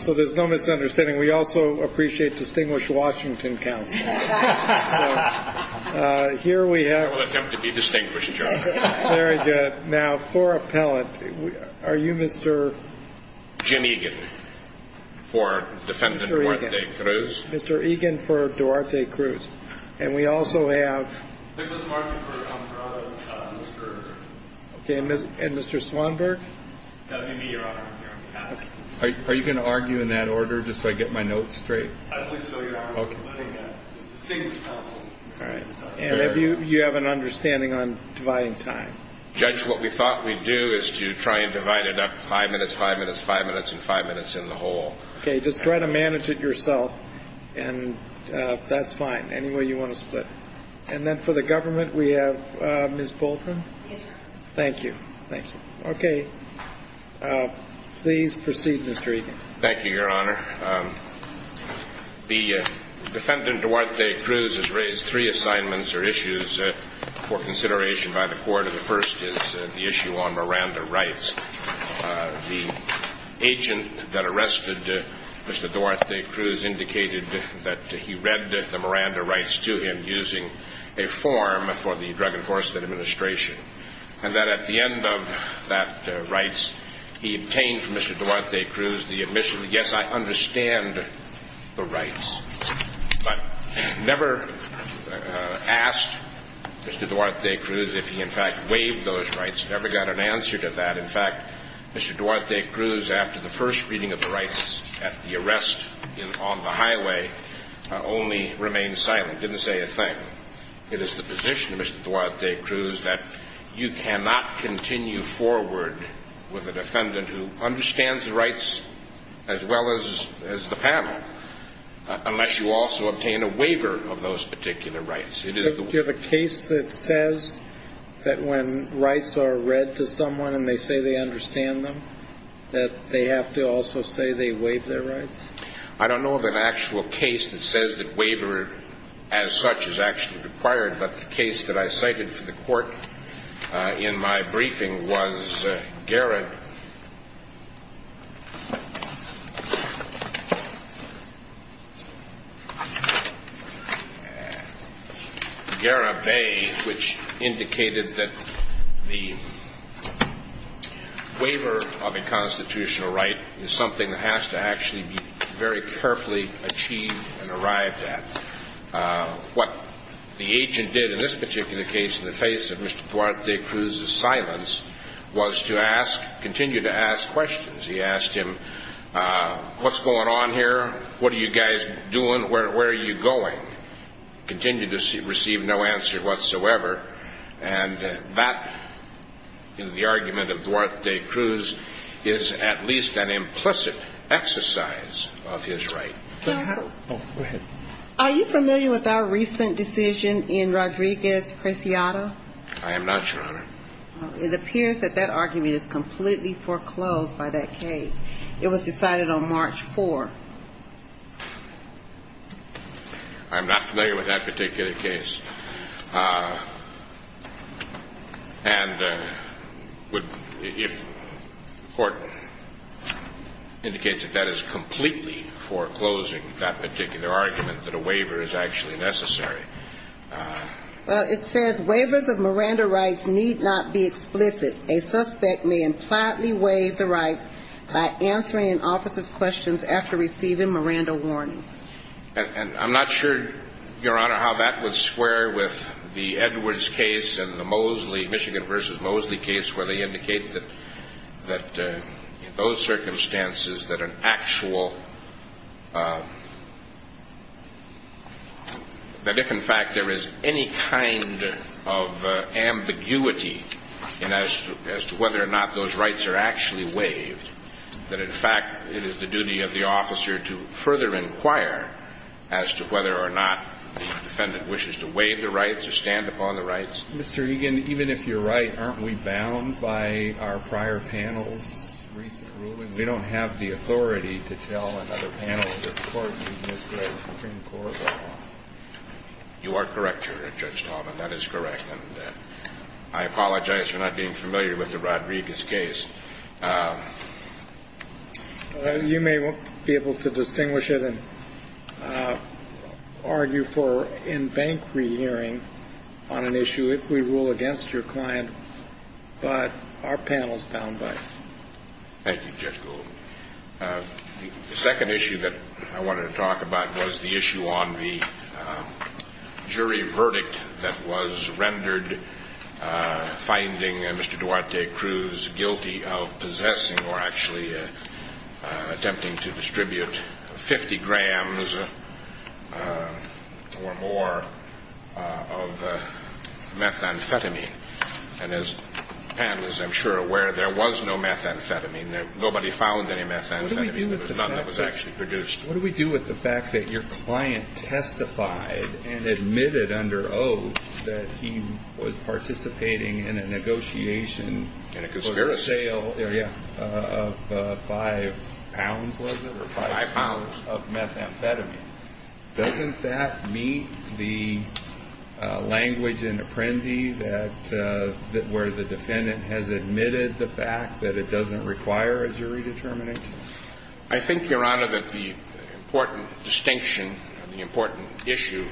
So there's no misunderstanding. We also appreciate distinguished Washington counsel. I will attempt to be distinguished, Your Honor. Very good. Now, for appellant, are you Mr. Jim Egan for defendant Duarte Cruz? Mr. Egan for Duarte Cruz. And we also have Nicholas Markenburg on behalf of Mr. And Mr. Swanberg? That would be me, Your Honor. Are you going to argue in that order just so I get my notes straight? I believe so, Your Honor. Okay. Including a distinguished counsel. And if you have an understanding on dividing time. Judge, what we thought we'd do is to try and divide it up five minutes, five minutes, five minutes, and five minutes in the whole. Okay. Just try to manage it yourself. And that's fine. Any way you want to split it. And then for the government, we have Ms. Bolton. Thank you. Thank you. Okay. Please proceed, Mr. Egan. Thank you, Your Honor. The defendant Duarte Cruz has raised three assignments or issues for consideration by the court. The first is the issue on Miranda rights. The agent that arrested Mr. Duarte Cruz indicated that he read the Miranda rights to him using a form for the Drug Enforcement Administration. And that at the end of that rights, he obtained from Mr. Duarte Cruz the admission, yes, I understand the rights. But never asked Mr. Duarte Cruz if he, in fact, waived those rights, never got an answer to that. In fact, Mr. Duarte Cruz, after the first reading of the rights at the arrest on the highway, only remained silent, didn't say a thing. It is the position of Mr. Duarte Cruz that you cannot continue forward with a defendant who understands the rights as well as the panel. Unless you also obtain a waiver of those particular rights. Do you have a case that says that when rights are read to someone and they say they understand them, that they have to also say they waive their rights? I don't know of an actual case that says that waiver as such is actually required. But the case that I cited for the court in my briefing was Garibay, which indicated that the waiver of a constitutional right is something that has to actually be very carefully achieved and arrived at. What the agent did in this particular case in the face of Mr. Duarte Cruz's silence was to ask, continue to ask questions. He asked him, what's going on here? What are you guys doing? Where are you going? Continued to receive no answer whatsoever. And that, in the argument of Duarte Cruz, is at least an implicit exercise of his right. Are you familiar with our recent decision in Rodriguez-Preciado? I am not, Your Honor. It appears that that argument is completely foreclosed by that case. It was decided on March 4. I'm not familiar with that particular case. And if the court indicates that that is completely foreclosing that particular argument, that a waiver is actually necessary. Well, it says, waivers of Miranda rights need not be explicit. A suspect may impliantly waive the rights by answering an officer's questions after receiving Miranda warnings. And I'm not sure, Your Honor, how that would square with the Edwards case and the Mosley, Michigan v. Mosley case, where they indicate that in those circumstances that an actual, that if, in fact, there is any kind of ambiguity as to whether or not those rights are actually waived, that, in fact, it is the duty of the officer to further inquire as to whether or not the defendant wishes to waive the rights or stand upon the rights. Mr. Egan, even if you're right, aren't we bound by our prior panel's recent ruling? We don't have the authority to tell another panel of this Court to use this great Supreme Court law. You are correct, Judge Taubman. That is correct. And I apologize for not being familiar with the Rodriguez case. You may be able to distinguish it and argue for in-bank re-hearing on an issue if we rule against your client, but our panel is bound by it. Thank you, Judge Gould. The second issue that I wanted to talk about was the issue on the jury verdict that was rendered finding Mr. Duarte Cruz guilty of possessing or actually attempting to distribute 50 grams or more of methamphetamine. And as the panel is, I'm sure, aware, there was no methamphetamine. Nobody found any methamphetamine. There was none that was actually produced. What do we do with the fact that your client testified and admitted under oath that he was participating in a negotiation? In a conspiracy. The sale of five pounds, was it, or five pounds of methamphetamine. Doesn't that meet the language in Apprendi where the defendant has admitted the fact that it doesn't require a jury determination? I think, Your Honor, that the important distinction and the important issue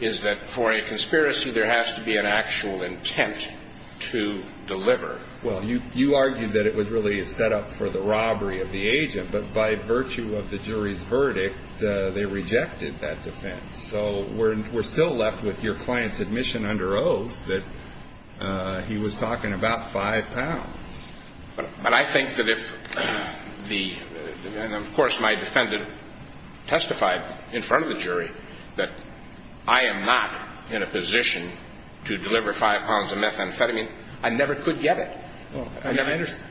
is that for a conspiracy, there has to be an actual intent to deliver. Well, you argued that it was really set up for the robbery of the agent, but by virtue of the jury's verdict, they rejected that defense. So we're still left with your client's admission under oath that he was talking about five pounds. But I think that if the, and of course my defendant testified in front of the jury that I am not in a position to deliver five pounds of methamphetamine, I never could get it.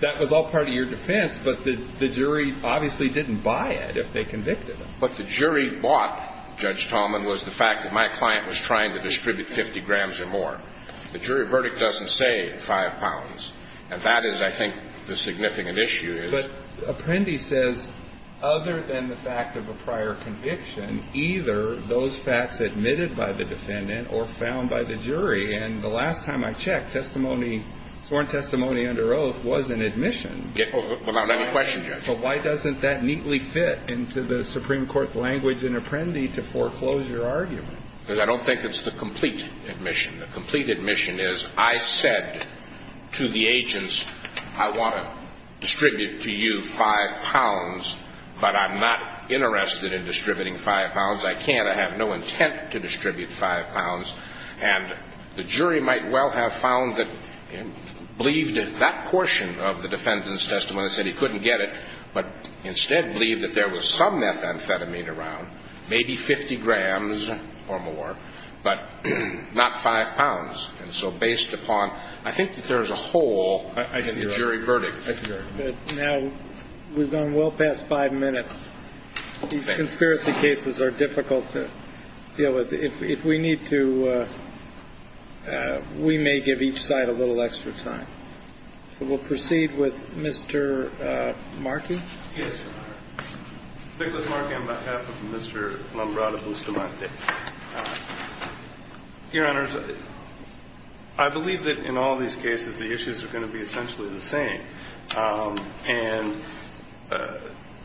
That was all part of your defense, but the jury obviously didn't buy it if they convicted him. But the jury bought, Judge Tallman, was the fact that my client was trying to distribute 50 grams or more. The jury verdict doesn't say five pounds, and that is, I think, the significant issue is. But Apprendi says, other than the fact of a prior conviction, either those facts admitted by the defendant or found by the jury. And the last time I checked, testimony, sworn testimony under oath was an admission. Without any question, Judge. So why doesn't that neatly fit into the Supreme Court's language in Apprendi to foreclose your argument? Because I don't think it's the complete admission. The complete admission is I said to the agents, I want to distribute to you five pounds, but I'm not interested in distributing five pounds. I can't. I have no intent to distribute five pounds. And the jury might well have found that, believed that portion of the defendant's testimony, said he couldn't get it, but instead believed that there was some methamphetamine around, maybe 50 grams or more, but not five pounds. And so based upon, I think that there is a hole in the jury verdict. I see. Now, we've gone well past five minutes. These conspiracy cases are difficult to deal with. If we need to, we may give each side a little extra time. So we'll proceed with Mr. Markey. Yes, Your Honor. Nicholas Markey on behalf of Mr. Lombrado-Bustamante. Your Honors, I believe that in all these cases the issues are going to be essentially the same. And,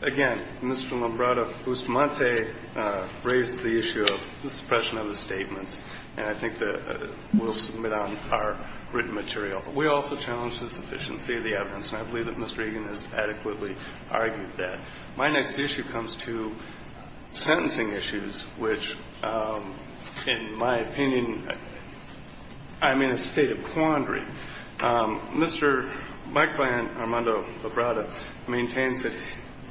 again, Mr. Lombrado-Bustamante raised the issue of the suppression of the statements. And I think that we'll submit on our written material. But we also challenge the sufficiency of the evidence. And I believe that Mr. Egan has adequately argued that. My next issue comes to sentencing issues, which, in my opinion, I'm in a state of quandary. Mr. Michael and Armando Labrada maintains that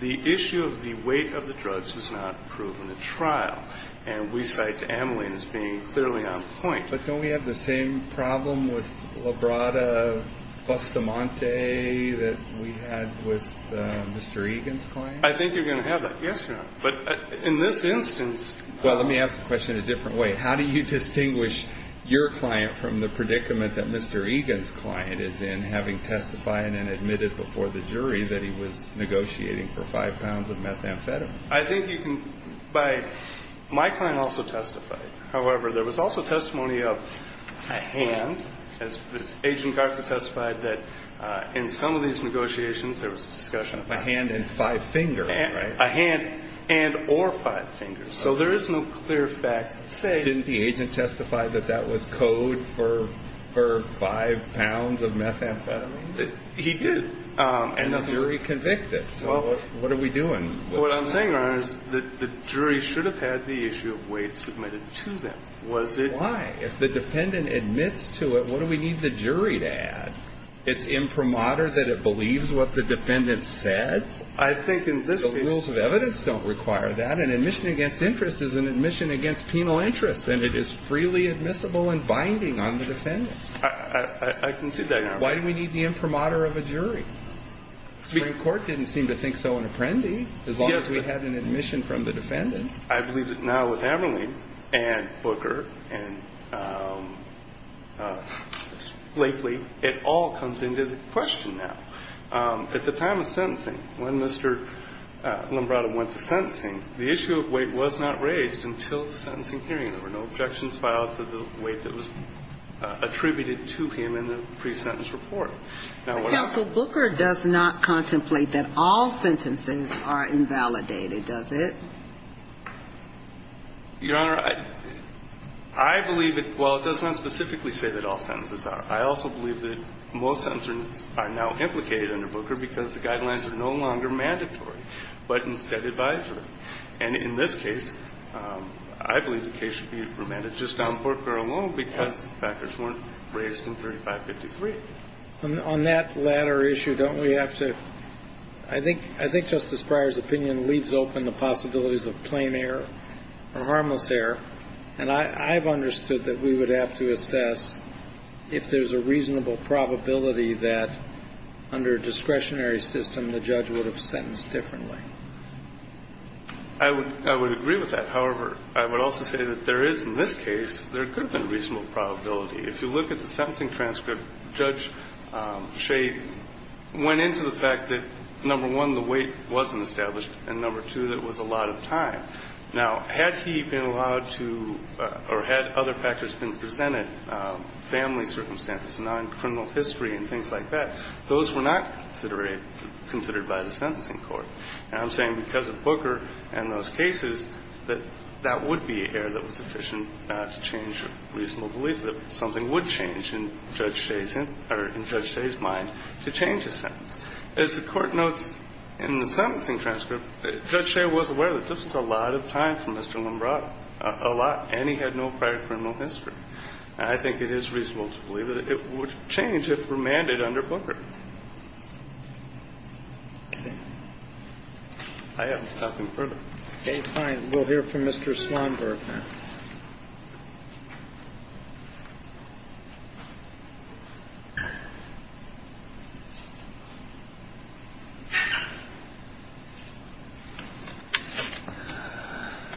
the issue of the weight of the drugs is not proven at trial. And we cite amyline as being clearly on point. But don't we have the same problem with Labrada-Bustamante that we had with Mr. Egan's client? I think you're going to have that. Yes, Your Honor. But in this instance. Well, let me ask the question a different way. How do you distinguish your client from the predicament that Mr. Egan's client is in, having testified and admitted before the jury that he was negotiating for 5 pounds of methamphetamine? I think you can by my client also testified. However, there was also testimony of a hand, as Agent Garza testified, that in some of these negotiations there was a discussion about. A hand and five fingers, right? A hand and or five fingers. So there is no clear fact to say. Didn't the agent testify that that was code for 5 pounds of methamphetamine? He did. And the jury convicted. So what are we doing? What I'm saying, Your Honor, is that the jury should have had the issue of weight submitted to them. Why? If the defendant admits to it, what do we need the jury to add? It's imprimatur that it believes what the defendant said? I think in this case. The rules of evidence don't require that. An admission against interest is an admission against penal interest. And it is freely admissible and binding on the defendant. I can see that, Your Honor. Why do we need the imprimatur of a jury? The Supreme Court didn't seem to think so in Apprendi, as long as we had an admission from the defendant. I believe that now with Averland and Booker and Blakely, it all comes into the question now. At the time of sentencing, when Mr. Lombardo went to sentencing, the issue of weight was not raised until the sentencing hearing. There were no objections filed to the weight that was attributed to him in the pre-sentence report. But counsel, Booker does not contemplate that all sentences are invalidated, does it? Your Honor, I believe that, while it does not specifically say that all sentences are, I also believe that most sentences are now implicated under Booker because the guidelines are no longer mandatory, but instead advisory. And in this case, I believe the case should be remanded just on Booker alone because the factors weren't raised in 3553. And on that latter issue, don't we have to – I think Justice Breyer's opinion leaves open the possibilities of plain error or harmless error. And I've understood that we would have to assess if there's a reasonable probability that under a discretionary system, the judge would have sentenced differently. I would agree with that. However, I would also say that there is, in this case, there could have been reasonable probability. If you look at the sentencing transcript, Judge Shea went into the fact that, number one, the weight wasn't established, and number two, that it was a lot of time. Now, had he been allowed to – or had other factors been presented, family circumstances, noncriminal history and things like that, those were not considered by the sentencing court. And I'm saying because of Booker and those cases, that that would be error that was sufficient to change reasonable belief that something would change in Judge Shea's – or in Judge Shea's mind to change his sentence. As the Court notes in the sentencing transcript, Judge Shea was aware that this was a lot of time for Mr. Lombrado, a lot, and he had no prior criminal history. And I think it is reasonable to believe that it would change if remanded under Booker. Okay. I haven't gotten further. Okay. Fine. We'll hear from Mr. Swanberg now.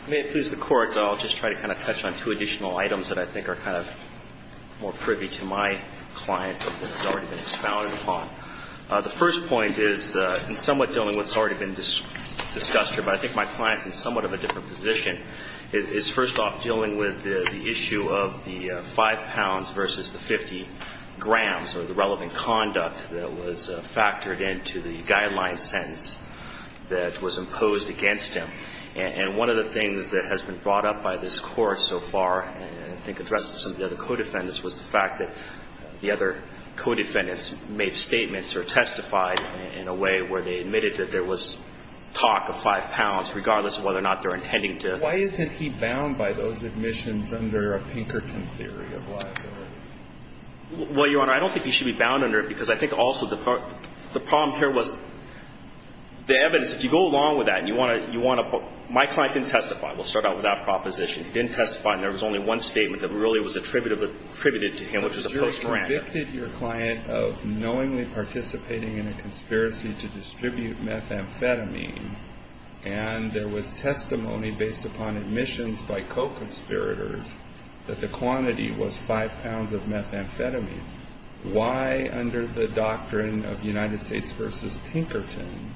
May it please the Court that I'll just try to kind of touch on two additional items that I think are kind of more privy to my client that has already been expounded upon. The first point is in somewhat dealing with what's already been discussed here, but I think my client is in somewhat of a different position, is first off dealing with the issue of the 5 pounds versus the 50 grams, or the relevant conduct that was factored into the guideline sentence that was imposed against him. And one of the things that has been brought up by this Court so far, and I think addressed to some of the other co-defendants, was the fact that the other co-defendants made statements or testified in a way where they admitted that there was talk of 5 pounds, regardless of whether or not they were intending to. Why isn't he bound by those admissions under a Pinkerton theory of liability? Well, Your Honor, I don't think he should be bound under it because I think also the problem here was the evidence. If you go along with that and you want to put, my client didn't testify. We'll start out with that proposition. He didn't testify and there was only one statement that really was attributed to him, which was a post-mortem. But you convicted your client of knowingly participating in a conspiracy to distribute methamphetamine, and there was testimony based upon admissions by co-conspirators that the quantity was 5 pounds of methamphetamine. Why, under the doctrine of United States v. Pinkerton,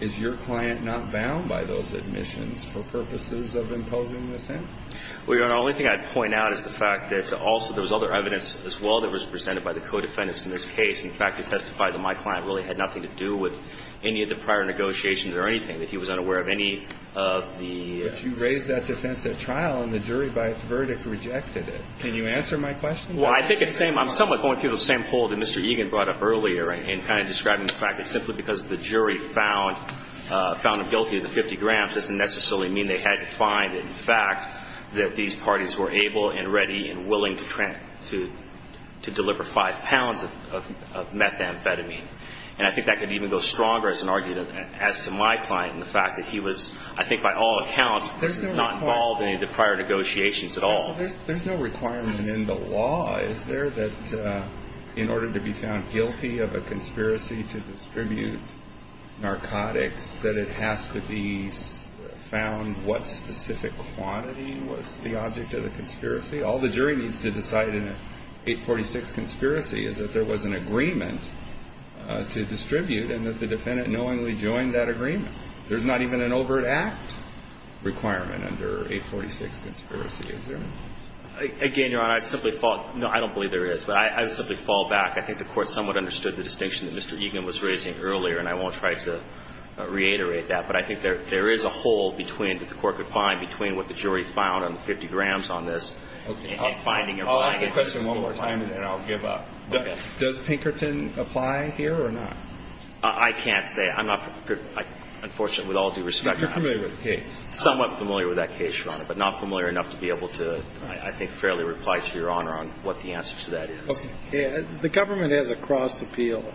is your client not bound by those admissions for purposes of imposing this in? Well, Your Honor, the only thing I'd point out is the fact that also there was other evidence as well that was presented by the co-defendants in this case. In fact, it testified that my client really had nothing to do with any of the prior negotiations or anything, that he was unaware of any of the ---- But you raised that defense at trial and the jury by its verdict rejected it. Can you answer my question? Well, I think it's the same. I'm somewhat going through the same poll that Mr. Egan brought up earlier in kind of describing the fact that simply because the jury found him guilty of the 50 grams doesn't necessarily mean they had to find the fact that these parties were able and ready and willing to deliver 5 pounds of methamphetamine. And I think that could even go stronger as an argument as to my client and the fact that he was, I think by all accounts, not involved in any of the prior negotiations at all. Well, there's no requirement in the law, is there, that in order to be found guilty of a conspiracy to distribute narcotics that it has to be found what specific quantity was the object of the conspiracy? All the jury needs to decide in an 846 conspiracy is that there was an agreement to distribute and that the defendant knowingly joined that agreement. There's not even an overt act requirement under 846 conspiracy. Again, Your Honor, I simply thought, no, I don't believe there is, but I would simply fall back. I think the Court somewhat understood the distinction that Mr. Egan was raising earlier, and I won't try to reiterate that. But I think there is a hole between, that the Court could find, between what the jury found on the 50 grams on this and finding and applying it. I'll ask the question one more time and then I'll give up. Okay. Does Pinkerton apply here or not? I can't say. I'm not, unfortunately, with all due respect. You're familiar with the case. Somewhat familiar with that case, Your Honor, but not familiar enough to be able to, I think, fairly reply to Your Honor on what the answer to that is. Okay. The government has a cross appeal.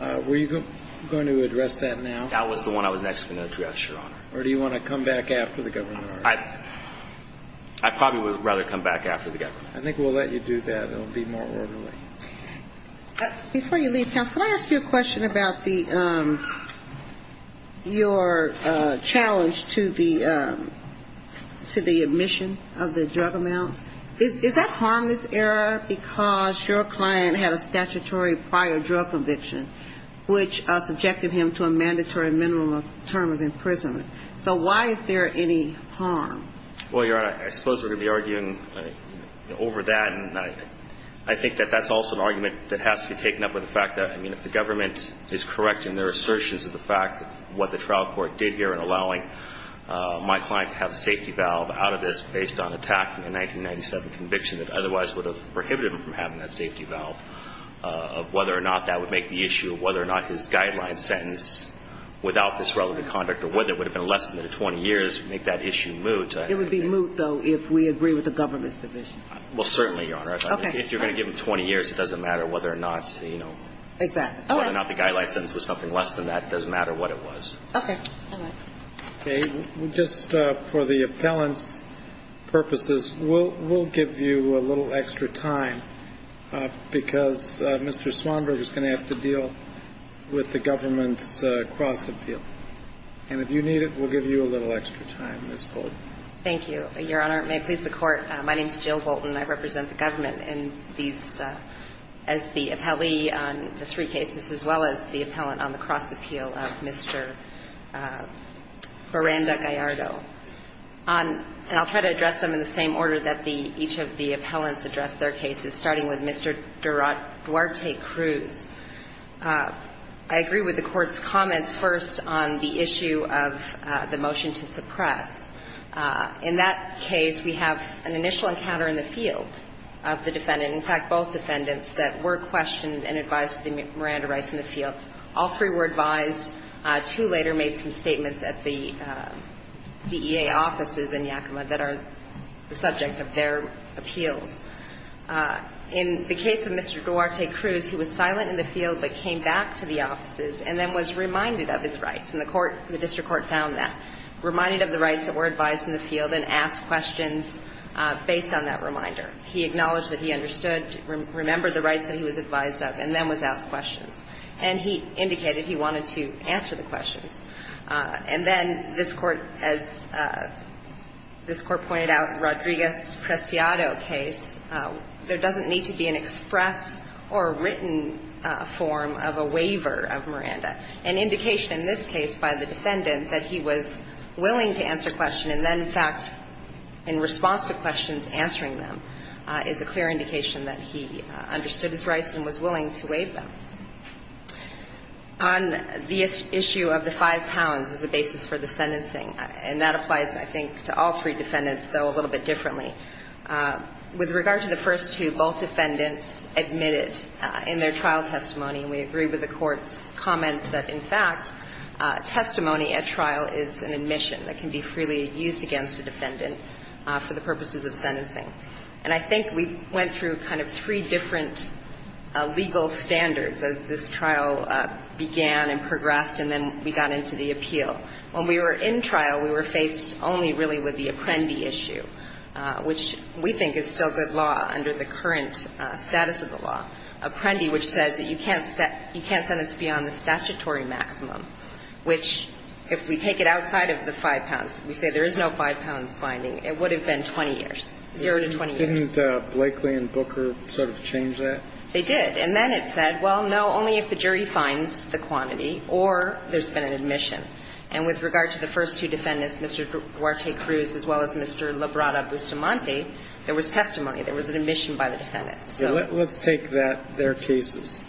Were you going to address that now? That was the one I was next going to address, Your Honor. Or do you want to come back after the government? I probably would rather come back after the government. I think we'll let you do that. It will be more orderly. Before you leave, counsel, can I ask you a question about the, your challenge to the, to the admission of the drug amounts? Is that harmless error because your client had a statutory prior drug conviction which subjected him to a mandatory minimum term of imprisonment? So why is there any harm? Well, Your Honor, I suppose we're going to be arguing over that. And I think that that's also an argument that has to be taken up with the fact that, I mean, if the government is correct in their assertions of the fact of what the trial court did here in allowing my client to have a safety valve out of this based on attacking a 1997 conviction that otherwise would have prohibited him from having that safety valve, of whether or not that would make the issue of whether or not his guideline sentence without this relevant conduct or whether it would have been less than 20 years would make that issue moot. It would be moot, though, if we agree with the government's position. Well, certainly, Your Honor. Okay. If you're going to give him 20 years, it doesn't matter whether or not, you know. Exactly. All right. Whether or not the guideline sentence was something less than that, it doesn't matter what it was. Okay. All right. Okay. Just for the appellant's purposes, we'll give you a little extra time because Mr. Swanberg is going to have to deal with the government's cross-appeal. And if you need it, we'll give you a little extra time, Ms. Bolden. Thank you, Your Honor. May it please the Court. My name is Jill Bolden, and I represent the government in these as the appellee on the three cases as well as the appellant on the cross-appeal of Mr. Miranda Gallardo. And I'll try to address them in the same order that each of the appellants addressed their cases, starting with Mr. Duarte-Cruz. I agree with the Court's comments first on the issue of the motion to suppress. In that case, we have an initial encounter in the field of the defendant. In fact, both defendants that were questioned and advised of the Miranda rights in the field. All three were advised. Two later made some statements at the DEA offices in Yakima that are the subject of their appeals. In the case of Mr. Duarte-Cruz, he was silent in the field but came back to the offices and then was reminded of his rights. And the court, the district court found that. Reminded of the rights that were advised in the field and asked questions based on that reminder. He acknowledged that he understood, remembered the rights that he was advised of, and then was asked questions. And he indicated he wanted to answer the questions. And then this Court, as this Court pointed out, Rodriguez-Preciado case, there doesn't need to be an express or written form of a waiver of Miranda. An indication in this case by the defendant that he was willing to answer questions and then, in fact, in response to questions, answering them is a clear indication that he understood his rights and was willing to waive them. On the issue of the five pounds as a basis for the sentencing, and that applies, I think, to all three defendants, though a little bit differently. With regard to the first two, both defendants admitted in their trial testimony and we agree with the Court's comments that, in fact, testimony at trial is an admission that can be freely used against a defendant for the purposes of sentencing. And I think we went through kind of three different legal standards as this trial began and progressed and then we got into the appeal. When we were in trial, we were faced only really with the Apprendi issue, which we think is still good law under the current status of the law. Apprendi, which says that you can't sentence beyond the statutory maximum, which if we take it outside of the five pounds, we say there is no five pounds finding, it would have been 20 years, zero to 20 years. Didn't Blakely and Booker sort of change that? They did. And then it said, well, no, only if the jury finds the quantity or there's been an admission. And with regard to the first two defendants, Mr. Duarte Cruz as well as Mr. Labrada Bustamante, there was testimony. There was an admission by the defendants. Let's take that, their cases.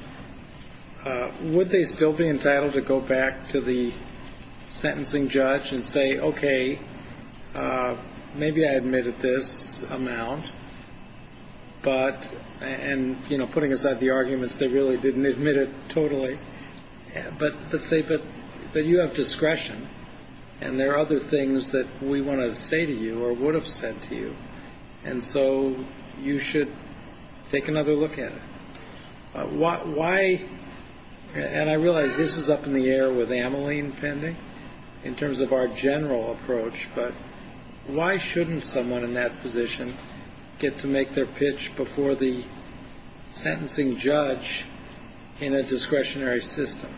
Would they still be entitled to go back to the sentencing judge and say, okay, maybe I admitted this amount, but, and, you know, putting aside the arguments they really didn't admit it totally, but let's say that you have discretion and there are other things that we want to say to you or would have said to you. And so you should take another look at it. Why, and I realize this is up in the air with Ameline pending in terms of our general approach, but why shouldn't someone in that position get to make their pitch before the sentencing judge in a discretionary system?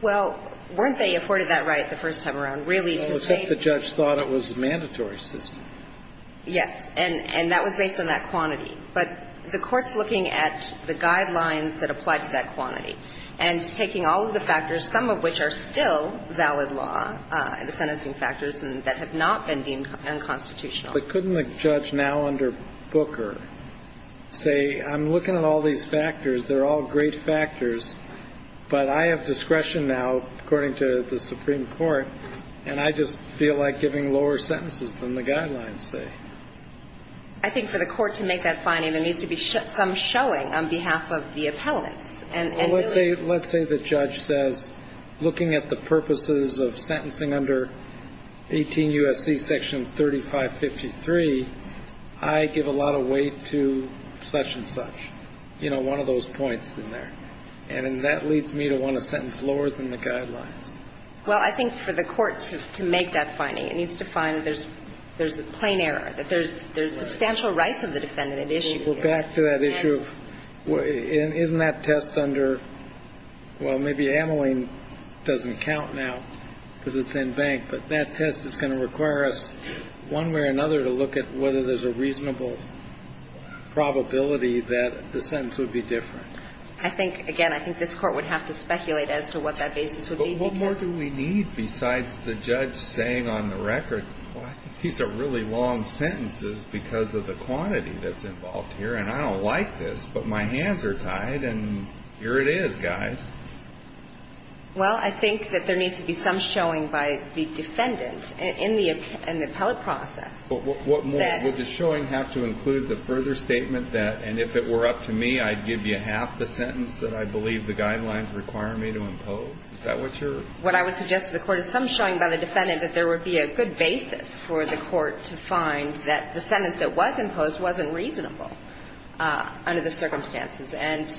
Well, weren't they afforded that right the first time around, really, to say? Well, except the judge thought it was a mandatory system. Yes. And that was based on that quantity. But the Court's looking at the guidelines that apply to that quantity and taking all of the factors, some of which are still valid law, the sentencing factors that have not been deemed unconstitutional. But couldn't the judge now under Booker say, I'm looking at all these factors, they're all great factors, but I have discretion now, according to the Supreme Court, and I just feel like giving lower sentences than the guidelines say? I think for the Court to make that finding, there needs to be some showing on behalf of the appellants. Well, let's say the judge says, looking at the purposes of sentencing under 18 U.S.C. section 3553, I give a lot of weight to such and such, you know, one of those points in there. And that leads me to want to sentence lower than the guidelines. Well, I think for the Court to make that finding, it needs to find that there's a plain error, that there's substantial rights of the defendant at issue here. Back to that issue of isn't that test under, well, maybe Ameline doesn't count now because it's in bank, but that test is going to require us one way or another to look at whether there's a reasonable probability that the sentence would be different. I think, again, I think this Court would have to speculate as to what that basis would be. But what more do we need besides the judge saying on the record, these are really long sentences because of the quantity that's involved here, and I don't like this, but my hands are tied, and here it is, guys. Well, I think that there needs to be some showing by the defendant in the appellate process. But what more? Would the showing have to include the further statement that, and if it were up to me, I'd give you half the sentence that I believe the guidelines require me to impose? Is that what you're? What I would suggest to the Court is some showing by the defendant that there would be a good basis for the Court to find that the sentence that was imposed wasn't reasonable under the circumstances. And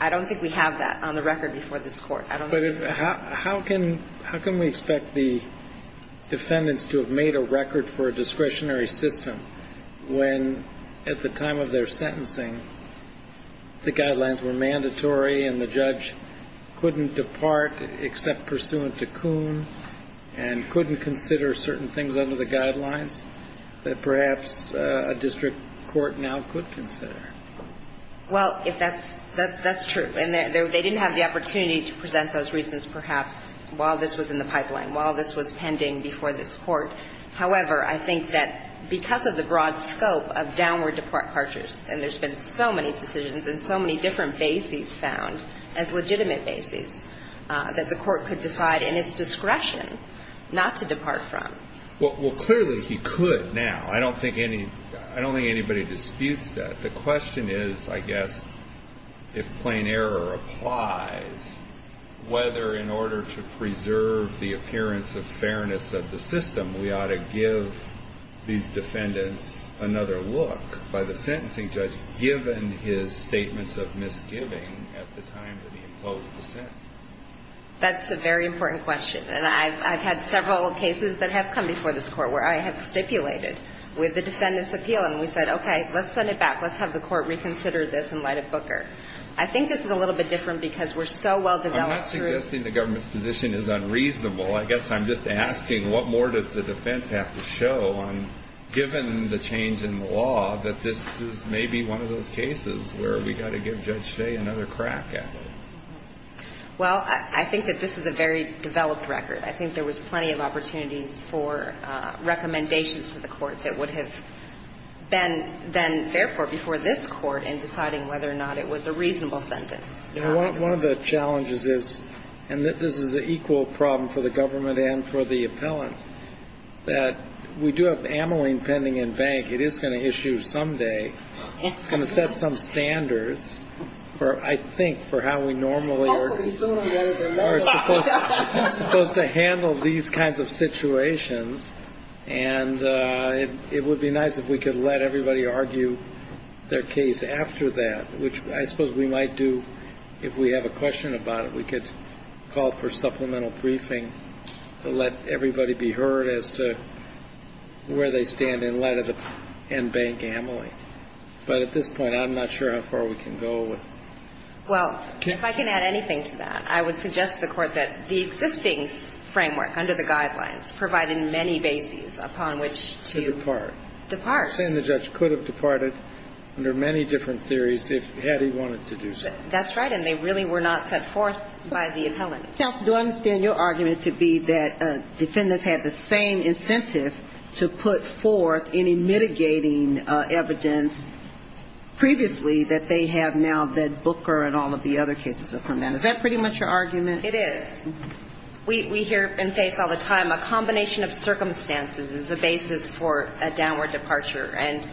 I don't think we have that on the record before this Court. I don't think we do. But how can we expect the defendants to have made a record for a discretionary system when, at the time of their sentencing, the guidelines were mandatory and the judge couldn't depart except pursuant to Coon and couldn't consider certain things under the guidelines that perhaps a district court now could consider? Well, if that's true. And they didn't have the opportunity to present those reasons, perhaps, while this was in the pipeline, while this was pending before this Court. However, I think that because of the broad scope of downward departures, and there's been so many decisions and so many different bases found as legitimate bases that the Court could decide in its discretion not to depart from. Well, clearly he could now. I don't think anybody disputes that. The question is, I guess, if plain error applies, whether in order to preserve the appearance of fairness of the system, we ought to give these defendants another look by the sentencing judge, given his statements of misgiving at the time that he imposed the sentence. That's a very important question. And I've had several cases that have come before this Court where I have stipulated with the defendant's appeal, and we said, okay, let's send it back. Let's have the Court reconsider this in light of Booker. I think this is a little bit different because we're so well-developed. I'm not suggesting the government's position is unreasonable. I guess I'm just asking, what more does the defense have to show? And given the change in the law, that this is maybe one of those cases where we've got to give Judge Shea another crack at it. Well, I think that this is a very developed record. I think there was plenty of opportunities for recommendations to the Court that would have been then fair for before this Court in deciding whether or not it was a reasonable sentence. One of the challenges is, and this is an equal problem for the government and for the appellants, that we do have Ameline pending in bank. It is going to issue someday. It's going to set some standards for, I think, for how we normally are supposed to handle these kinds of situations. And it would be nice if we could let everybody argue their case after that, which I suppose we might do if we have a question about it. I'm not sure if we could call for supplemental briefing to let everybody be heard as to where they stand in light of the end bank Ameline. But at this point, I'm not sure how far we can go with it. Well, if I can add anything to that, I would suggest to the Court that the existing framework under the guidelines provided many bases upon which to depart. Depart. I'm saying the judge could have departed under many different theories had he wanted to do so. That's right. And they really were not set forth by the appellants. Justice, do I understand your argument to be that defendants had the same incentive to put forth any mitigating evidence previously that they have now that Booker and all of the other cases have come down? Is that pretty much your argument? It is. We hear and face all the time a combination of circumstances is a basis for a downward departure. And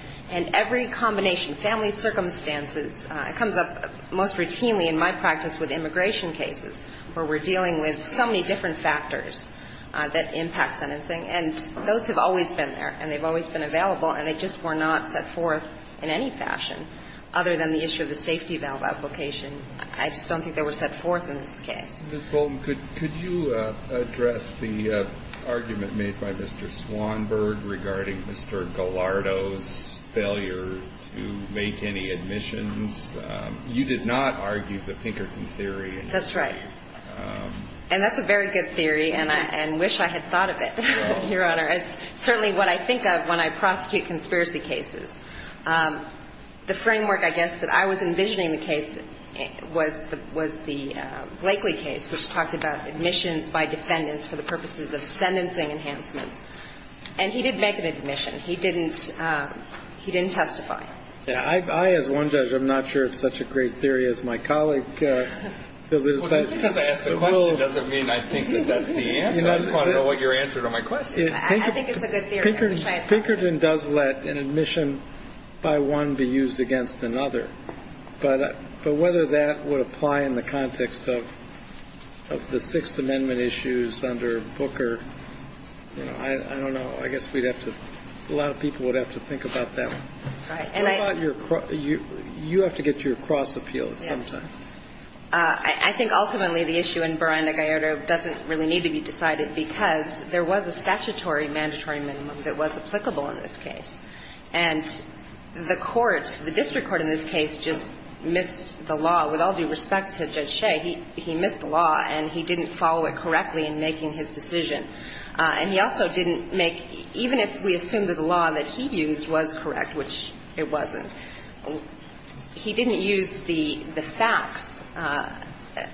every combination, family circumstances, comes up most routinely in my practice with immigration cases where we're dealing with so many different factors that impact sentencing. And those have always been there and they've always been available, and they just were not set forth in any fashion other than the issue of the safety valve application. I just don't think they were set forth in this case. Ms. Bolton, could you address the argument made by Mr. Swanberg regarding Mr. Gallardo 's failure to make any admissions? You did not argue the Pinkerton theory. That's right. And that's a very good theory, and I wish I had thought of it, Your Honor. It's certainly what I think of when I prosecute conspiracy cases. The framework, I guess, that I was envisioning the case was the Blakeley case, which talked about admissions by defendants for the purposes of sentencing enhancements. And he did make an admission. He didn't testify. Yeah. I, as one judge, I'm not sure it's such a great theory as my colleague. Well, just because I asked the question doesn't mean I think that that's the answer. I just want to know what your answer to my question is. I think it's a good theory. Pinkerton does let an admission by one be used against another. But whether that would apply in the context of the Sixth Amendment issues under Booker, you know, I don't know. I guess we'd have to – a lot of people would have to think about that one. Right. And I – What about your – you have to get your cross appeal at some time. Yes. I think ultimately the issue in Beranda-Gallardo doesn't really need to be decided because there was a statutory mandatory minimum that was applicable in this case. And the court, the district court in this case, just missed the law. With all due respect to Judge Shea, he missed the law, and he didn't follow it correctly in making his decision. And he also didn't make – even if we assumed that the law that he used was correct, which it wasn't, he didn't use the facts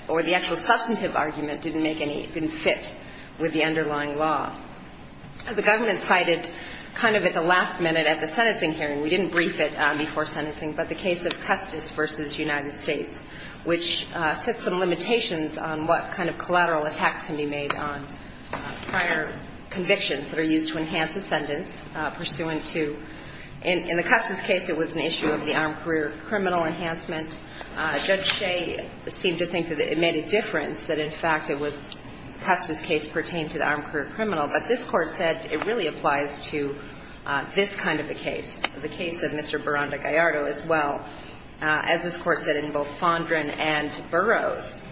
or the actual substantive argument didn't make any – didn't fit with the underlying law. The government cited kind of at the last minute at the sentencing hearing – we didn't brief it before sentencing – but the case of Custis v. United States, which set some prior convictions that are used to enhance a sentence pursuant to – in the Custis case, it was an issue of the armed career criminal enhancement. Judge Shea seemed to think that it made a difference that, in fact, it was – Custis case pertained to the armed career criminal. But this Court said it really applies to this kind of a case, the case of Mr. Beranda-Gallardo as well. As this Court said, in both Fondren and Burroughs,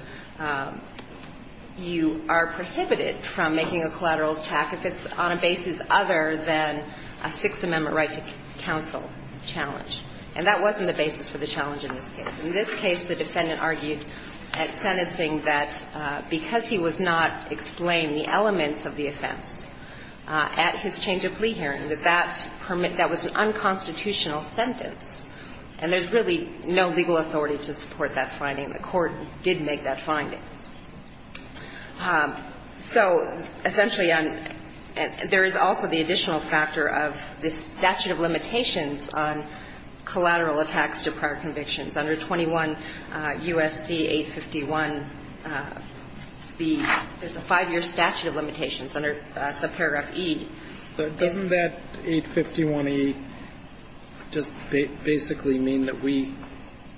you are prohibited from making a collateral attack if it's on a basis other than a Sixth Amendment right to counsel challenge. And that wasn't the basis for the challenge in this case. In this case, the defendant argued at sentencing that because he was not explained the elements of the offense at his change of plea hearing, that that was an unconstitutional sentence. And there's really no legal authority to support that finding. The Court did make that finding. So essentially, there is also the additional factor of the statute of limitations on collateral attacks to prior convictions. Under 21 U.S.C. 851, the – there's a five-year statute of limitations under subparagraph E. Doesn't that 851E just basically mean that we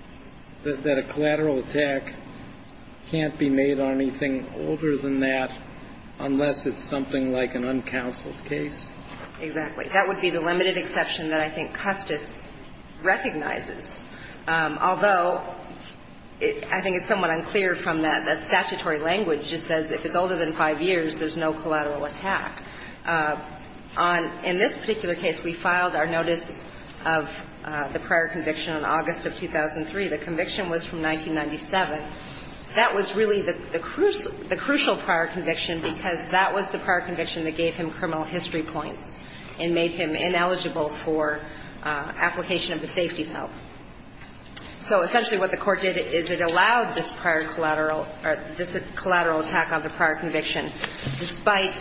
– that a collateral attack can't be made on anything older than that unless it's something like an uncounseled case? Exactly. That would be the limited exception that I think Custis recognizes, although I think it's somewhat unclear from that, that statutory language just says if it's older than five years, there's no collateral attack. On – in this particular case, we filed our notice of the prior conviction in August of 2003. The conviction was from 1997. That was really the crucial prior conviction because that was the prior conviction that gave him criminal history points and made him ineligible for application of a safety pelt. So essentially what the Court did is it allowed this prior collateral – or this collateral attack on the prior conviction despite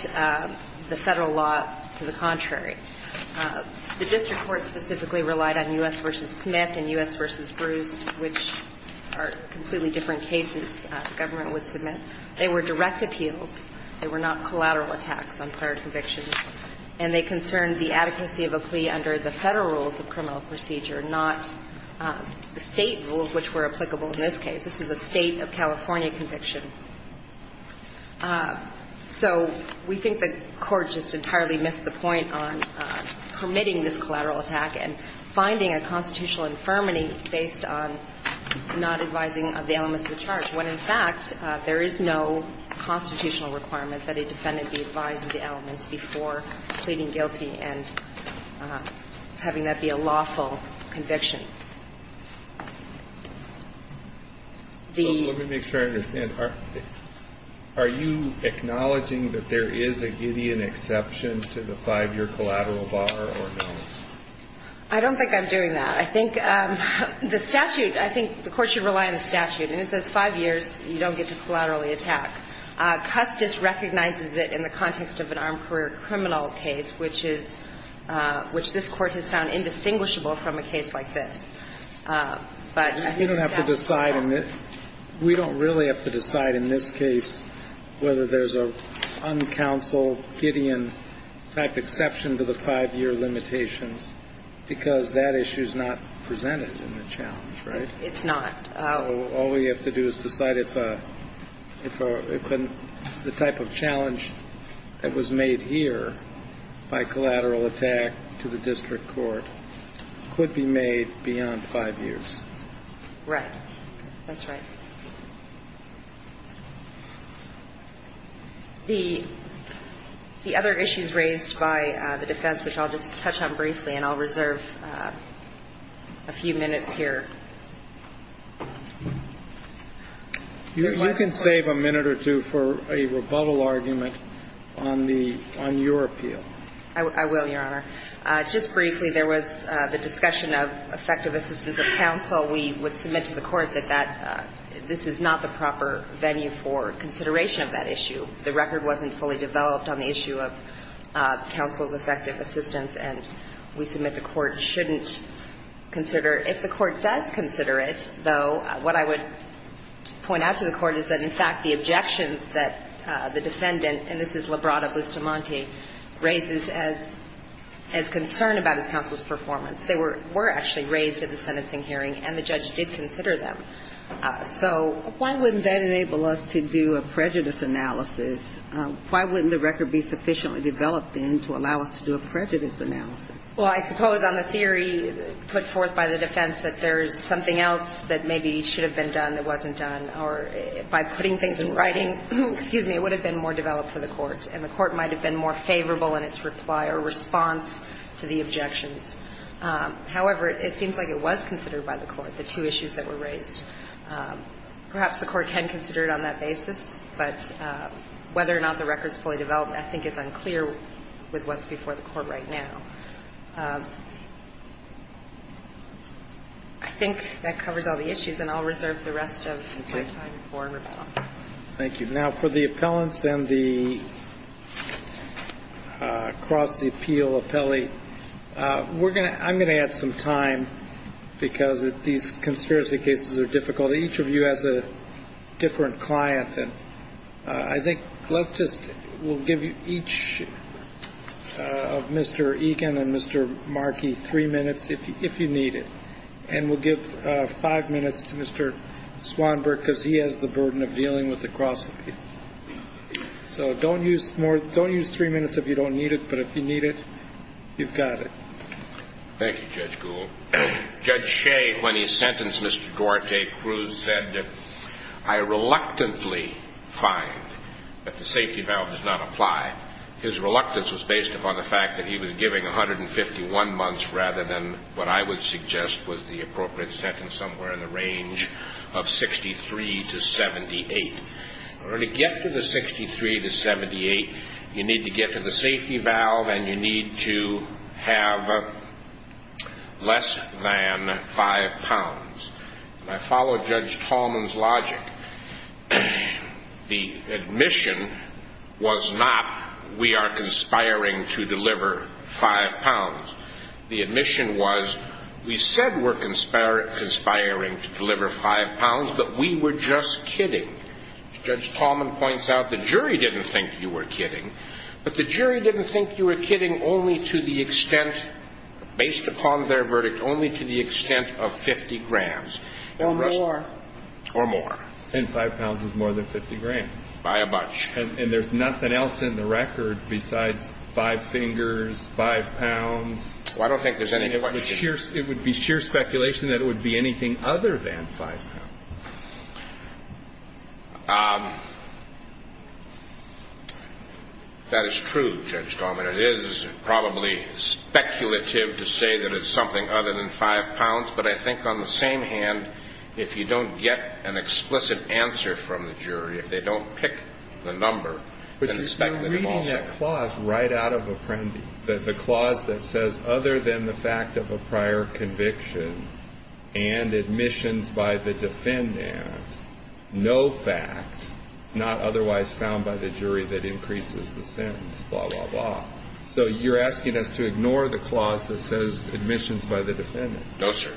the Federal law to the contrary. The district court specifically relied on U.S. v. Smith and U.S. v. Bruce, which are completely different cases the government would submit. They were direct appeals. They were not collateral attacks on prior convictions. And they concerned the adequacy of a plea under the Federal rules of criminal procedure, not the State rules which were applicable in this case. This was a State of California conviction. So we think the Court just entirely missed the point on permitting this collateral attack and finding a constitutional infirmity based on not advising of the elements of the charge, when, in fact, there is no constitutional requirement that a defendant be advised of the elements before pleading guilty and having that be a lawful conviction. The – So let me make sure I understand. Are you acknowledging that there is a Gideon exception to the 5-year collateral bar or no? I don't think I'm doing that. I think the statute – I think the Court should rely on the statute. And it says 5 years, you don't get to collaterally attack. Custis recognizes it in the context of an armed career criminal case, which is – which this Court has found indistinguishable from a case like this. But I think the statute – You don't have to decide in this – we don't really have to decide in this case whether there's an uncounseled Gideon-type exception to the 5-year limitations because that issue is not presented in the challenge, right? It's not. So all we have to do is decide if a – if a – the type of challenge that was made here by collateral attack to the district court could be made beyond 5 years. Right. That's right. The other issues raised by the defense, which I'll just touch on briefly, and I'll reserve a few minutes here. You can save a minute or two for a rebuttal argument on the – on your appeal. I will, Your Honor. Just briefly, there was the discussion of effective assistance of counsel. We would submit to the Court that that – this is not the proper venue for consideration of that issue. The record wasn't fully developed on the issue of counsel's effective assistance, and we submit the Court shouldn't consider. If the Court does consider it, though, what I would point out to the Court is that, in fact, the objections that the defendant, and this is Labrada-Bustamante, raises as – as concern about his counsel's performance, they were – were actually raised at the sentencing hearing, and the judge did consider them. So why wouldn't that enable us to do a prejudice analysis? Why wouldn't the record be sufficiently developed then to allow us to do a prejudice analysis? Well, I suppose on the theory put forth by the defense that there's something else that maybe should have been done that wasn't done, or by putting things in writing – excuse me – it would have been more developed for the Court, and the Court might have been more favorable in its reply or response to the objections. However, it seems like it was considered by the Court, the two issues that were raised. Perhaps the Court can consider it on that basis, but whether or not the record's fully developed, I think, is unclear with what's before the Court right now. I think that covers all the issues, and I'll reserve the rest of my time for rebuttal. Thank you. Now, for the appellants and the cross-appeal appellee, we're going to – I'm going to add some time, because these conspiracy cases are difficult. Each of you has a different client, and I think let's just – we'll give you each of Mr. Egan and Mr. Markey three minutes, if you need it, and we'll give five minutes to Mr. Swanberg, because he has the burden of dealing with the cross-appeal. So don't use more – don't use three minutes if you don't need it, but if you need it, you've got it. Thank you, Judge Gould. Judge Shea, when he sentenced Mr. Duarte, Cruz said that, I reluctantly find that the safety valve does not apply. His reluctance was based upon the fact that he was giving 151 months rather than what I would suggest was the appropriate sentence somewhere in the range of 63 to 78. In order to get to the 63 to 78, you need to get to the safety valve, and you need to have less than five pounds. I follow Judge Tallman's logic. The admission was not we are conspiring to deliver five pounds. The admission was we said we're conspiring to deliver five pounds, but we were just kidding. Judge Tallman points out the jury didn't think you were kidding, but the jury didn't think you were kidding only to the extent, based upon their verdict, only to the extent of 50 grams. Or more. Or more. And five pounds is more than 50 grams. By a bunch. And there's nothing else in the record besides five fingers, five pounds. Well, I don't think there's anything else. It would be sheer speculation that it would be anything other than five pounds. That is true, Judge Tallman. It is probably speculative to say that it's something other than five pounds, but I think on the same hand, if you don't get an explicit answer from the jury, if they don't pick the number, then it's speculative also. But you're reading that clause right out of Apprendi, the clause that says other than the fact of a prior conviction and admissions by the defendant, no fact, not otherwise found by the jury that increases the sentence, blah, blah, blah. So you're asking us to ignore the clause that says admissions by the defendant. No, sir.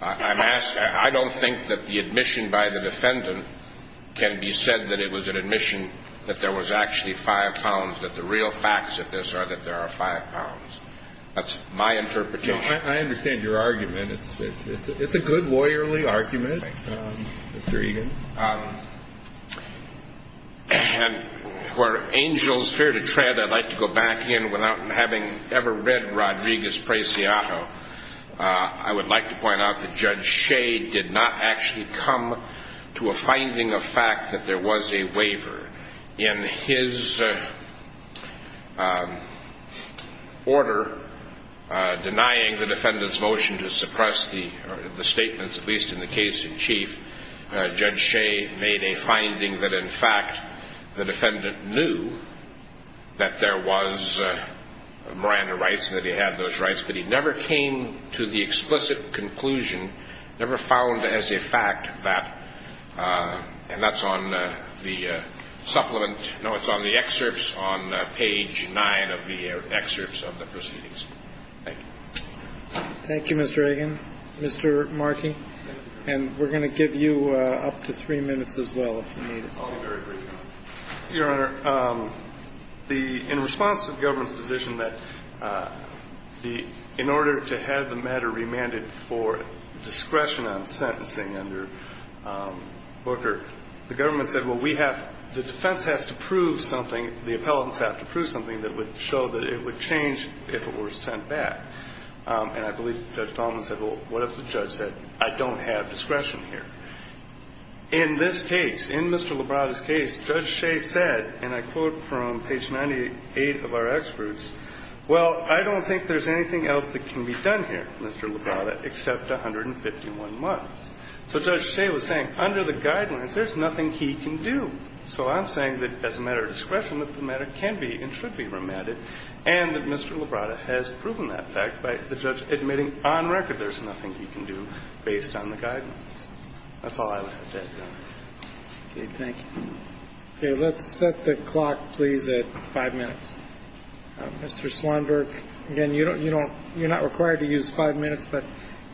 I'm asking. I don't think that the admission by the defendant can be said that it was an admission that there was actually five pounds, that the real facts of this are that there are five pounds. That's my interpretation. I understand your argument. It's a good lawyerly argument, Mr. Egan. And where angels fear to tread, I'd like to go back in without having ever read Rodriguez-Preciado. I would like to point out that Judge Shea did not actually come to a finding of fact that there was a waiver. In his order denying the defendant's motion to suppress the statements, at least in the case in chief, Judge Shea made a finding that, in fact, the defendant knew that there was Miranda rights and that he had those rights, but he never came to the explicit conclusion, never found as a fact that. And that's on the supplement. No, it's on the excerpts on page 9 of the excerpts of the proceedings. Thank you. Thank you, Mr. Egan. Mr. Markey. And we're going to give you up to three minutes as well, if you need it. I'll be very brief, Your Honor. In response to the government's position that in order to have the matter remanded for discretion on sentencing under Booker, the government said, well, we have to the defense has to prove something, the appellants have to prove something that would show that it would change if it were sent back. And I believe Judge Dahlman said, well, what if the judge said, I don't have discretion here? In this case, in Mr. Labrada's case, Judge Shea said, and I quote from page 98 of our excerpts, well, I don't think there's anything else that can be done here, Mr. Labrada, except 151 months. So Judge Shea was saying, under the guidelines, there's nothing he can do. So I'm saying that as a matter of discretion that the matter can be and should be remanded, and that Mr. Labrada has proven that fact by the judge admitting on record there's nothing he can do based on the guidelines. That's all I would have to add, Your Honor. Thank you. Okay. Let's set the clock, please, at 5 minutes. Mr. Swanberg, again, you don't you don't you're not required to use 5 minutes, but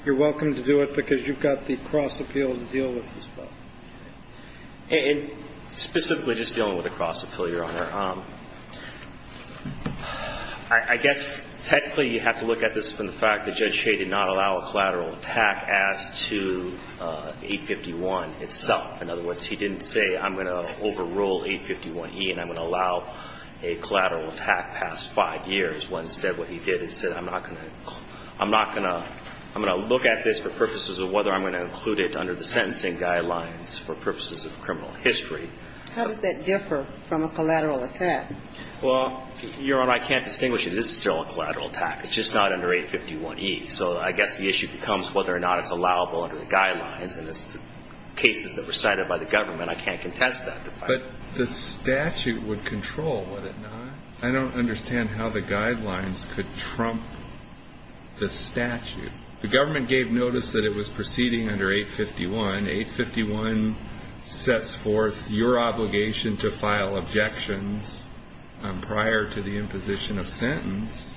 you're welcome to do it because you've got the cross appeal to deal with as well. And specifically just dealing with the cross appeal, Your Honor, I guess technically you have to look at this from the fact that Judge Shea did not allow a collateral attack as to 851 itself. In other words, he didn't say, I'm going to overrule 851e and I'm going to allow a collateral attack past 5 years. Instead, what he did is said, I'm not going to I'm not going to I'm going to look at this for purposes of whether I'm going to include it under the sentencing guidelines for purposes of criminal history. How does that differ from a collateral attack? Well, Your Honor, I can't distinguish. It is still a collateral attack. It's just not under 851e. So I guess the issue becomes whether or not it's allowable under the guidelines, and it's cases that were cited by the government. I can't contest that. But the statute would control, would it not? I don't understand how the guidelines could trump the statute. The government gave notice that it was proceeding under 851. 851 sets forth your obligation to file objections prior to the imposition of sentence.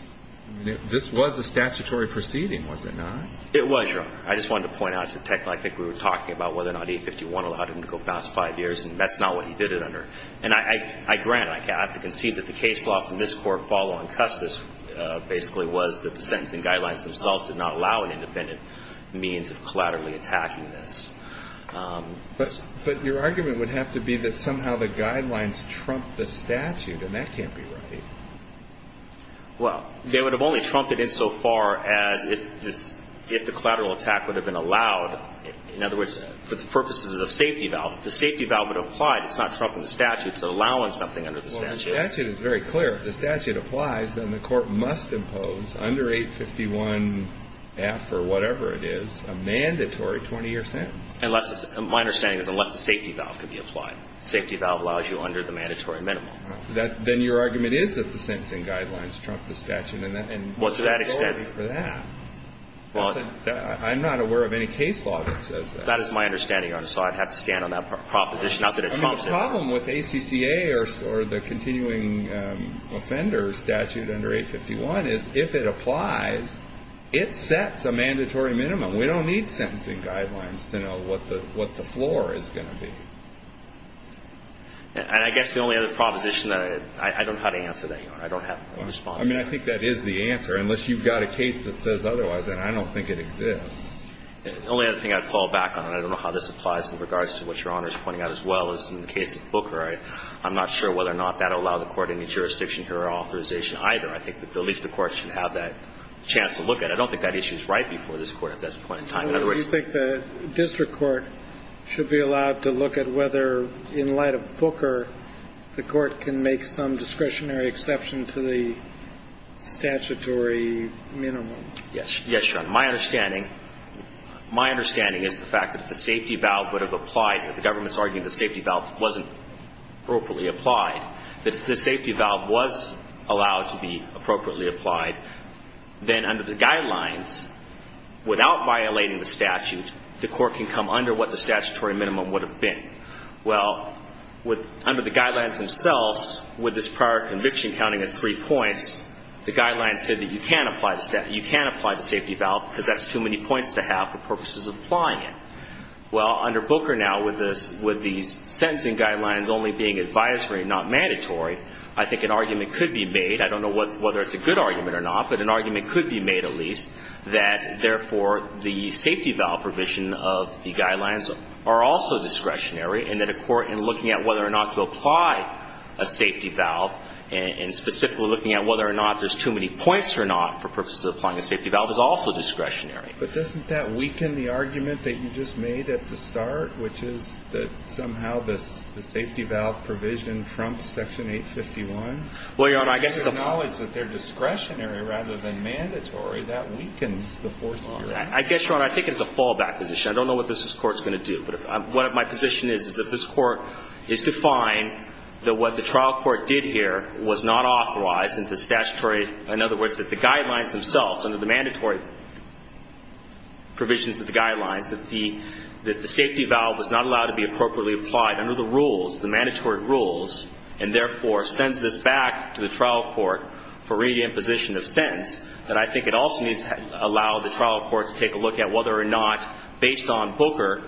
This was a statutory proceeding, was it not? It was, Your Honor. I just wanted to point out to the technical, I think we were talking about whether or not 851 allowed him to go past 5 years, and that's not what he did it under. And I grant, I have to concede that the case law from this court following basically was that the sentencing guidelines themselves did not allow an independent means of collaterally attacking this. But your argument would have to be that somehow the guidelines trump the statute, and that can't be right. Well, they would have only trumped it in so far as if the collateral attack would have been allowed, in other words, for the purposes of safety valve. If the safety valve would have applied, it's not trumping the statute. It's allowing something under the statute. Well, the statute is very clear. If the statute applies, then the court must impose under 851F or whatever it is, a mandatory 20-year sentence. My understanding is unless the safety valve can be applied. The safety valve allows you under the mandatory minimum. Then your argument is that the sentencing guidelines trump the statute. Well, to that extent. I'm not aware of any case law that says that. That is my understanding, Your Honor. So I'd have to stand on that proposition, not that it trumps it. The problem with ACCA or the continuing offender statute under 851 is if it applies, it sets a mandatory minimum. We don't need sentencing guidelines to know what the floor is going to be. And I guess the only other proposition that I don't know how to answer that, Your Honor. I don't have a response. I mean, I think that is the answer, unless you've got a case that says otherwise, and I don't think it exists. The only other thing I'd fall back on, and I don't know how this applies in regards to what Your Honor is pointing out as well as in the case of Booker, I'm not sure whether or not that will allow the Court any jurisdiction here or authorization either. I think at least the Court should have that chance to look at it. I don't think that issue is right before this Court at this point in time. In other words you think the district court should be allowed to look at whether in light of Booker the Court can make some discretionary exception to the statutory minimum. Yes. Yes, Your Honor. My understanding, my understanding is the fact that the safety valve would have applied. The government is arguing the safety valve wasn't appropriately applied. But if the safety valve was allowed to be appropriately applied, then under the guidelines, without violating the statute, the Court can come under what the statutory minimum would have been. Well, under the guidelines themselves, with this prior conviction counting as three points, the guidelines said that you can't apply the safety valve because that's too many points to have for purposes of applying it. Well, under Booker now with these sentencing guidelines only being advisory, not mandatory, I think an argument could be made. I don't know whether it's a good argument or not, but an argument could be made at least that therefore the safety valve provision of the guidelines are also discretionary and that a Court in looking at whether or not to apply a safety valve is also discretionary. But doesn't that weaken the argument that you just made at the start, which is that somehow the safety valve provision trumps Section 851? Well, Your Honor, I guess it's a fallback position. If you acknowledge that they're discretionary rather than mandatory, that weakens the force of your argument. I guess, Your Honor, I think it's a fallback position. I don't know what this Court is going to do. But what my position is, is that this Court is defined that what the trial court did here was not authorized. In other words, that the guidelines themselves, under the mandatory provisions of the guidelines, that the safety valve was not allowed to be appropriately applied under the rules, the mandatory rules, and therefore sends this back to the trial court for re-imposition of sentence. But I think it also needs to allow the trial court to take a look at whether or not based on Booker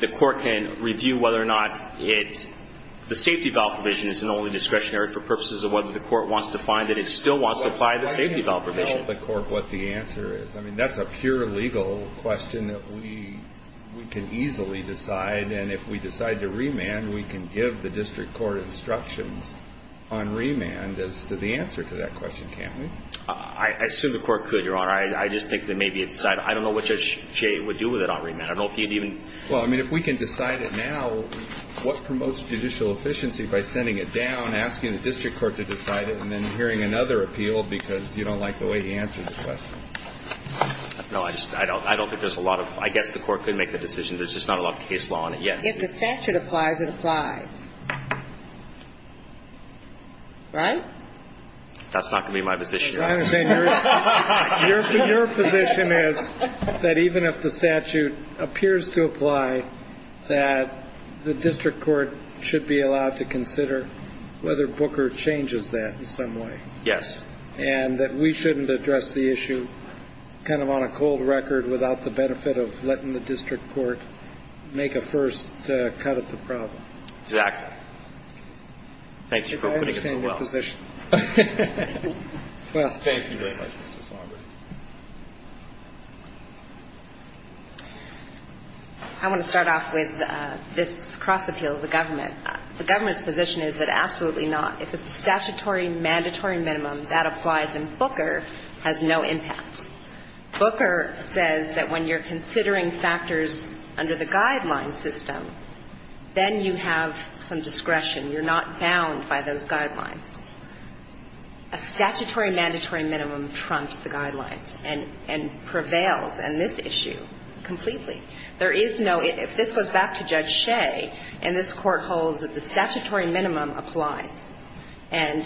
the court can review whether or not the safety valve provision is an only discretionary for purposes of whether the court wants to find that it still wants to apply the safety valve provision. Well, how can you tell the court what the answer is? I mean, that's a pure legal question that we can easily decide. And if we decide to remand, we can give the district court instructions on remand as to the answer to that question, can't we? I assume the court could, Your Honor. I just think that maybe it's decided. I don't know what Judge Shea would do with it on remand. I don't know if he'd even – Well, I mean, if we can decide it now, what promotes judicial efficiency by sending it down, asking the district court to decide it, and then hearing another appeal because you don't like the way he answered the question. No, I don't think there's a lot of – I guess the court could make the decision. There's just not a lot of case law on it yet. If the statute applies, it applies. That's not going to be my position, Your Honor. Your position is that even if the statute appears to apply, that the district court should be allowed to consider whether Booker changes that in some way. Yes. And that we shouldn't address the issue kind of on a cold record without the benefit of letting the district court make a first cut at the problem. Exactly. Thank you for opening it so well. I understand your position. Well, thank you very much, Justice Albrecht. I want to start off with this cross-appeal of the government. The government's position is that absolutely not. If it's a statutory mandatory minimum, that applies, and Booker has no impact. Booker says that when you're considering factors under the guidelines system, then you have some discretion. You're not bound by those guidelines. A statutory mandatory minimum trumps the guidelines. And prevails in this issue completely. There is no – if this goes back to Judge Shea, and this Court holds that the statutory minimum applies, and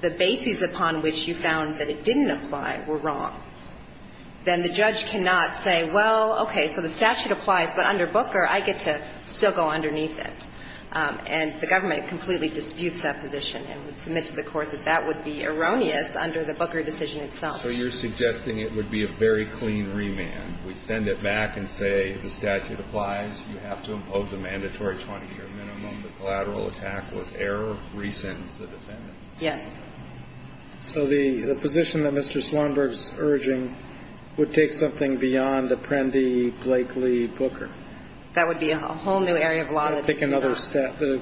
the bases upon which you found that it didn't apply were wrong, then the judge cannot say, well, okay, so the statute applies, but under Booker, I get to still go underneath it. And the government completely disputes that position and would submit to the Court that that would be erroneous under the Booker decision itself. So you're suggesting it would be a very clean remand. We send it back and say the statute applies. You have to impose a mandatory 20-year minimum. The collateral attack was error. Resentence the defendant. Yes. So the position that Mr. Swanberg's urging would take something beyond Apprendi, Blakely, Booker. That would be a whole new area of law that's not. It would take another step. It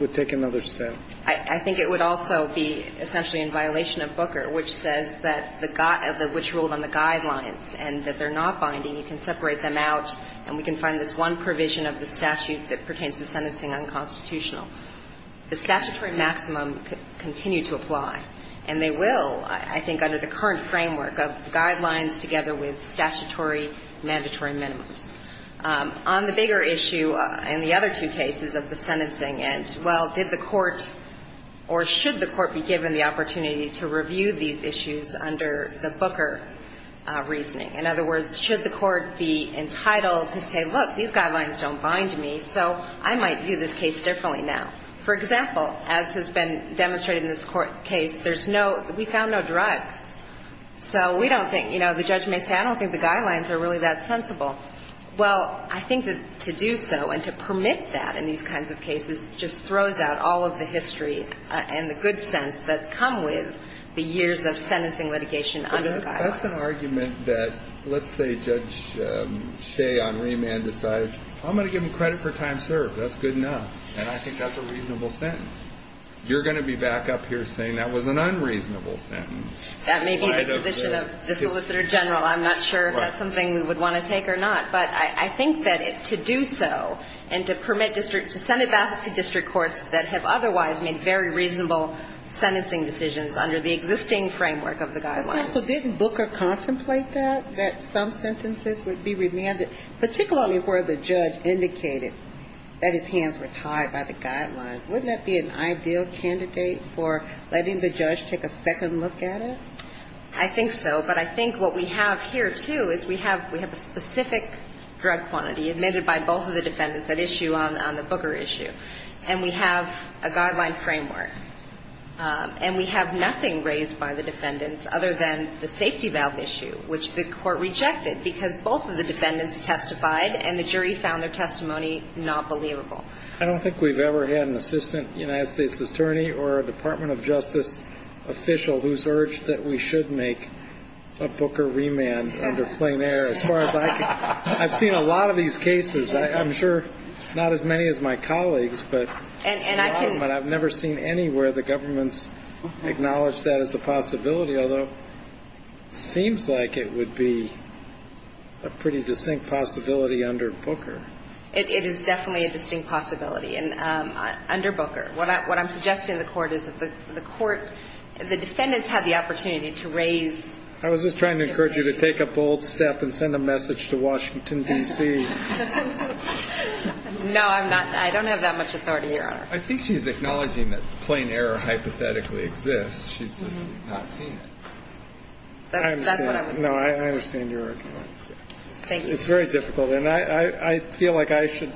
would take another step. I think it would also be essentially in violation of Booker, which says that the – which ruled on the guidelines and that they're not binding. You can separate them out, and we can find this one provision of the statute that pertains to sentencing unconstitutional. The statutory maximum could continue to apply, and they will, I think, under the current framework of guidelines together with statutory mandatory minimums. On the bigger issue in the other two cases of the sentencing, and, well, did the court or should the court be given the opportunity to review these issues under the Booker reasoning? In other words, should the court be entitled to say, look, these guidelines don't bind me, so I might view this case differently now. For example, as has been demonstrated in this court case, there's no – we found no drugs. So we don't think – you know, the judge may say I don't think the guidelines are really that sensible. Well, I think that to do so and to permit that in these kinds of cases just throws out all of the history and the good sense that come with the years of sentencing litigation under the guidelines. But that's an argument that, let's say Judge Shea on remand decides, I'm going to give him credit for time served. That's good enough. And I think that's a reasonable sentence. You're going to be back up here saying that was an unreasonable sentence. That may be the position of the Solicitor General. I'm not sure if that's something we would want to take or not. But I think that to do so and to permit district – to send it back to district courts that have otherwise made very reasonable sentencing decisions under the existing framework of the guidelines. So didn't Booker contemplate that, that some sentences would be remanded, particularly where the judge indicated that his hands were tied by the guidelines? Wouldn't that be an ideal candidate for letting the judge take a second look at it? I think so. But I think what we have here, too, is we have a specific drug quantity admitted by both of the defendants at issue on the Booker issue. And we have a guideline framework. And we have nothing raised by the defendants other than the safety valve issue, which the Court rejected because both of the defendants testified and the jury found their testimony not believable. I don't think we've ever had an assistant United States attorney or a Department of Justice official who's urged that we should make a Booker remand under plain error, as far as I can – I've seen a lot of these cases. I'm sure not as many as my colleagues, but I've never seen anywhere the government's acknowledged that as a possibility, although it seems like it would be a pretty distinct possibility under Booker. It is definitely a distinct possibility. And under Booker, what I'm suggesting to the Court is that the Court – the defendants have the opportunity to raise – I was just trying to encourage you to take a bold step and send a message to Washington, D.C. No, I'm not – I don't have that much authority, Your Honor. I think she's acknowledging that plain error hypothetically exists. She's just not seen it. That's what I was saying. I understand. No, I understand your argument. Thank you. It's very difficult. And I feel like I should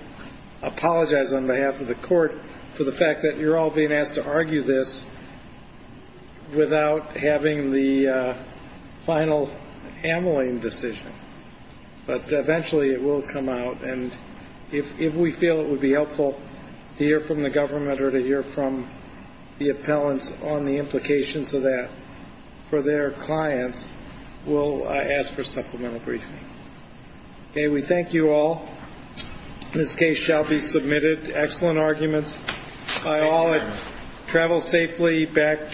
apologize on behalf of the Court for the fact that you're all being asked to argue this without having the final amyling decision. But eventually it will come out, and if we feel it would be helpful to hear from the government or to hear from the appellants on the implications of that for their briefings. Okay. We thank you all. This case shall be submitted. Excellent arguments. Travel safely back. Thank you.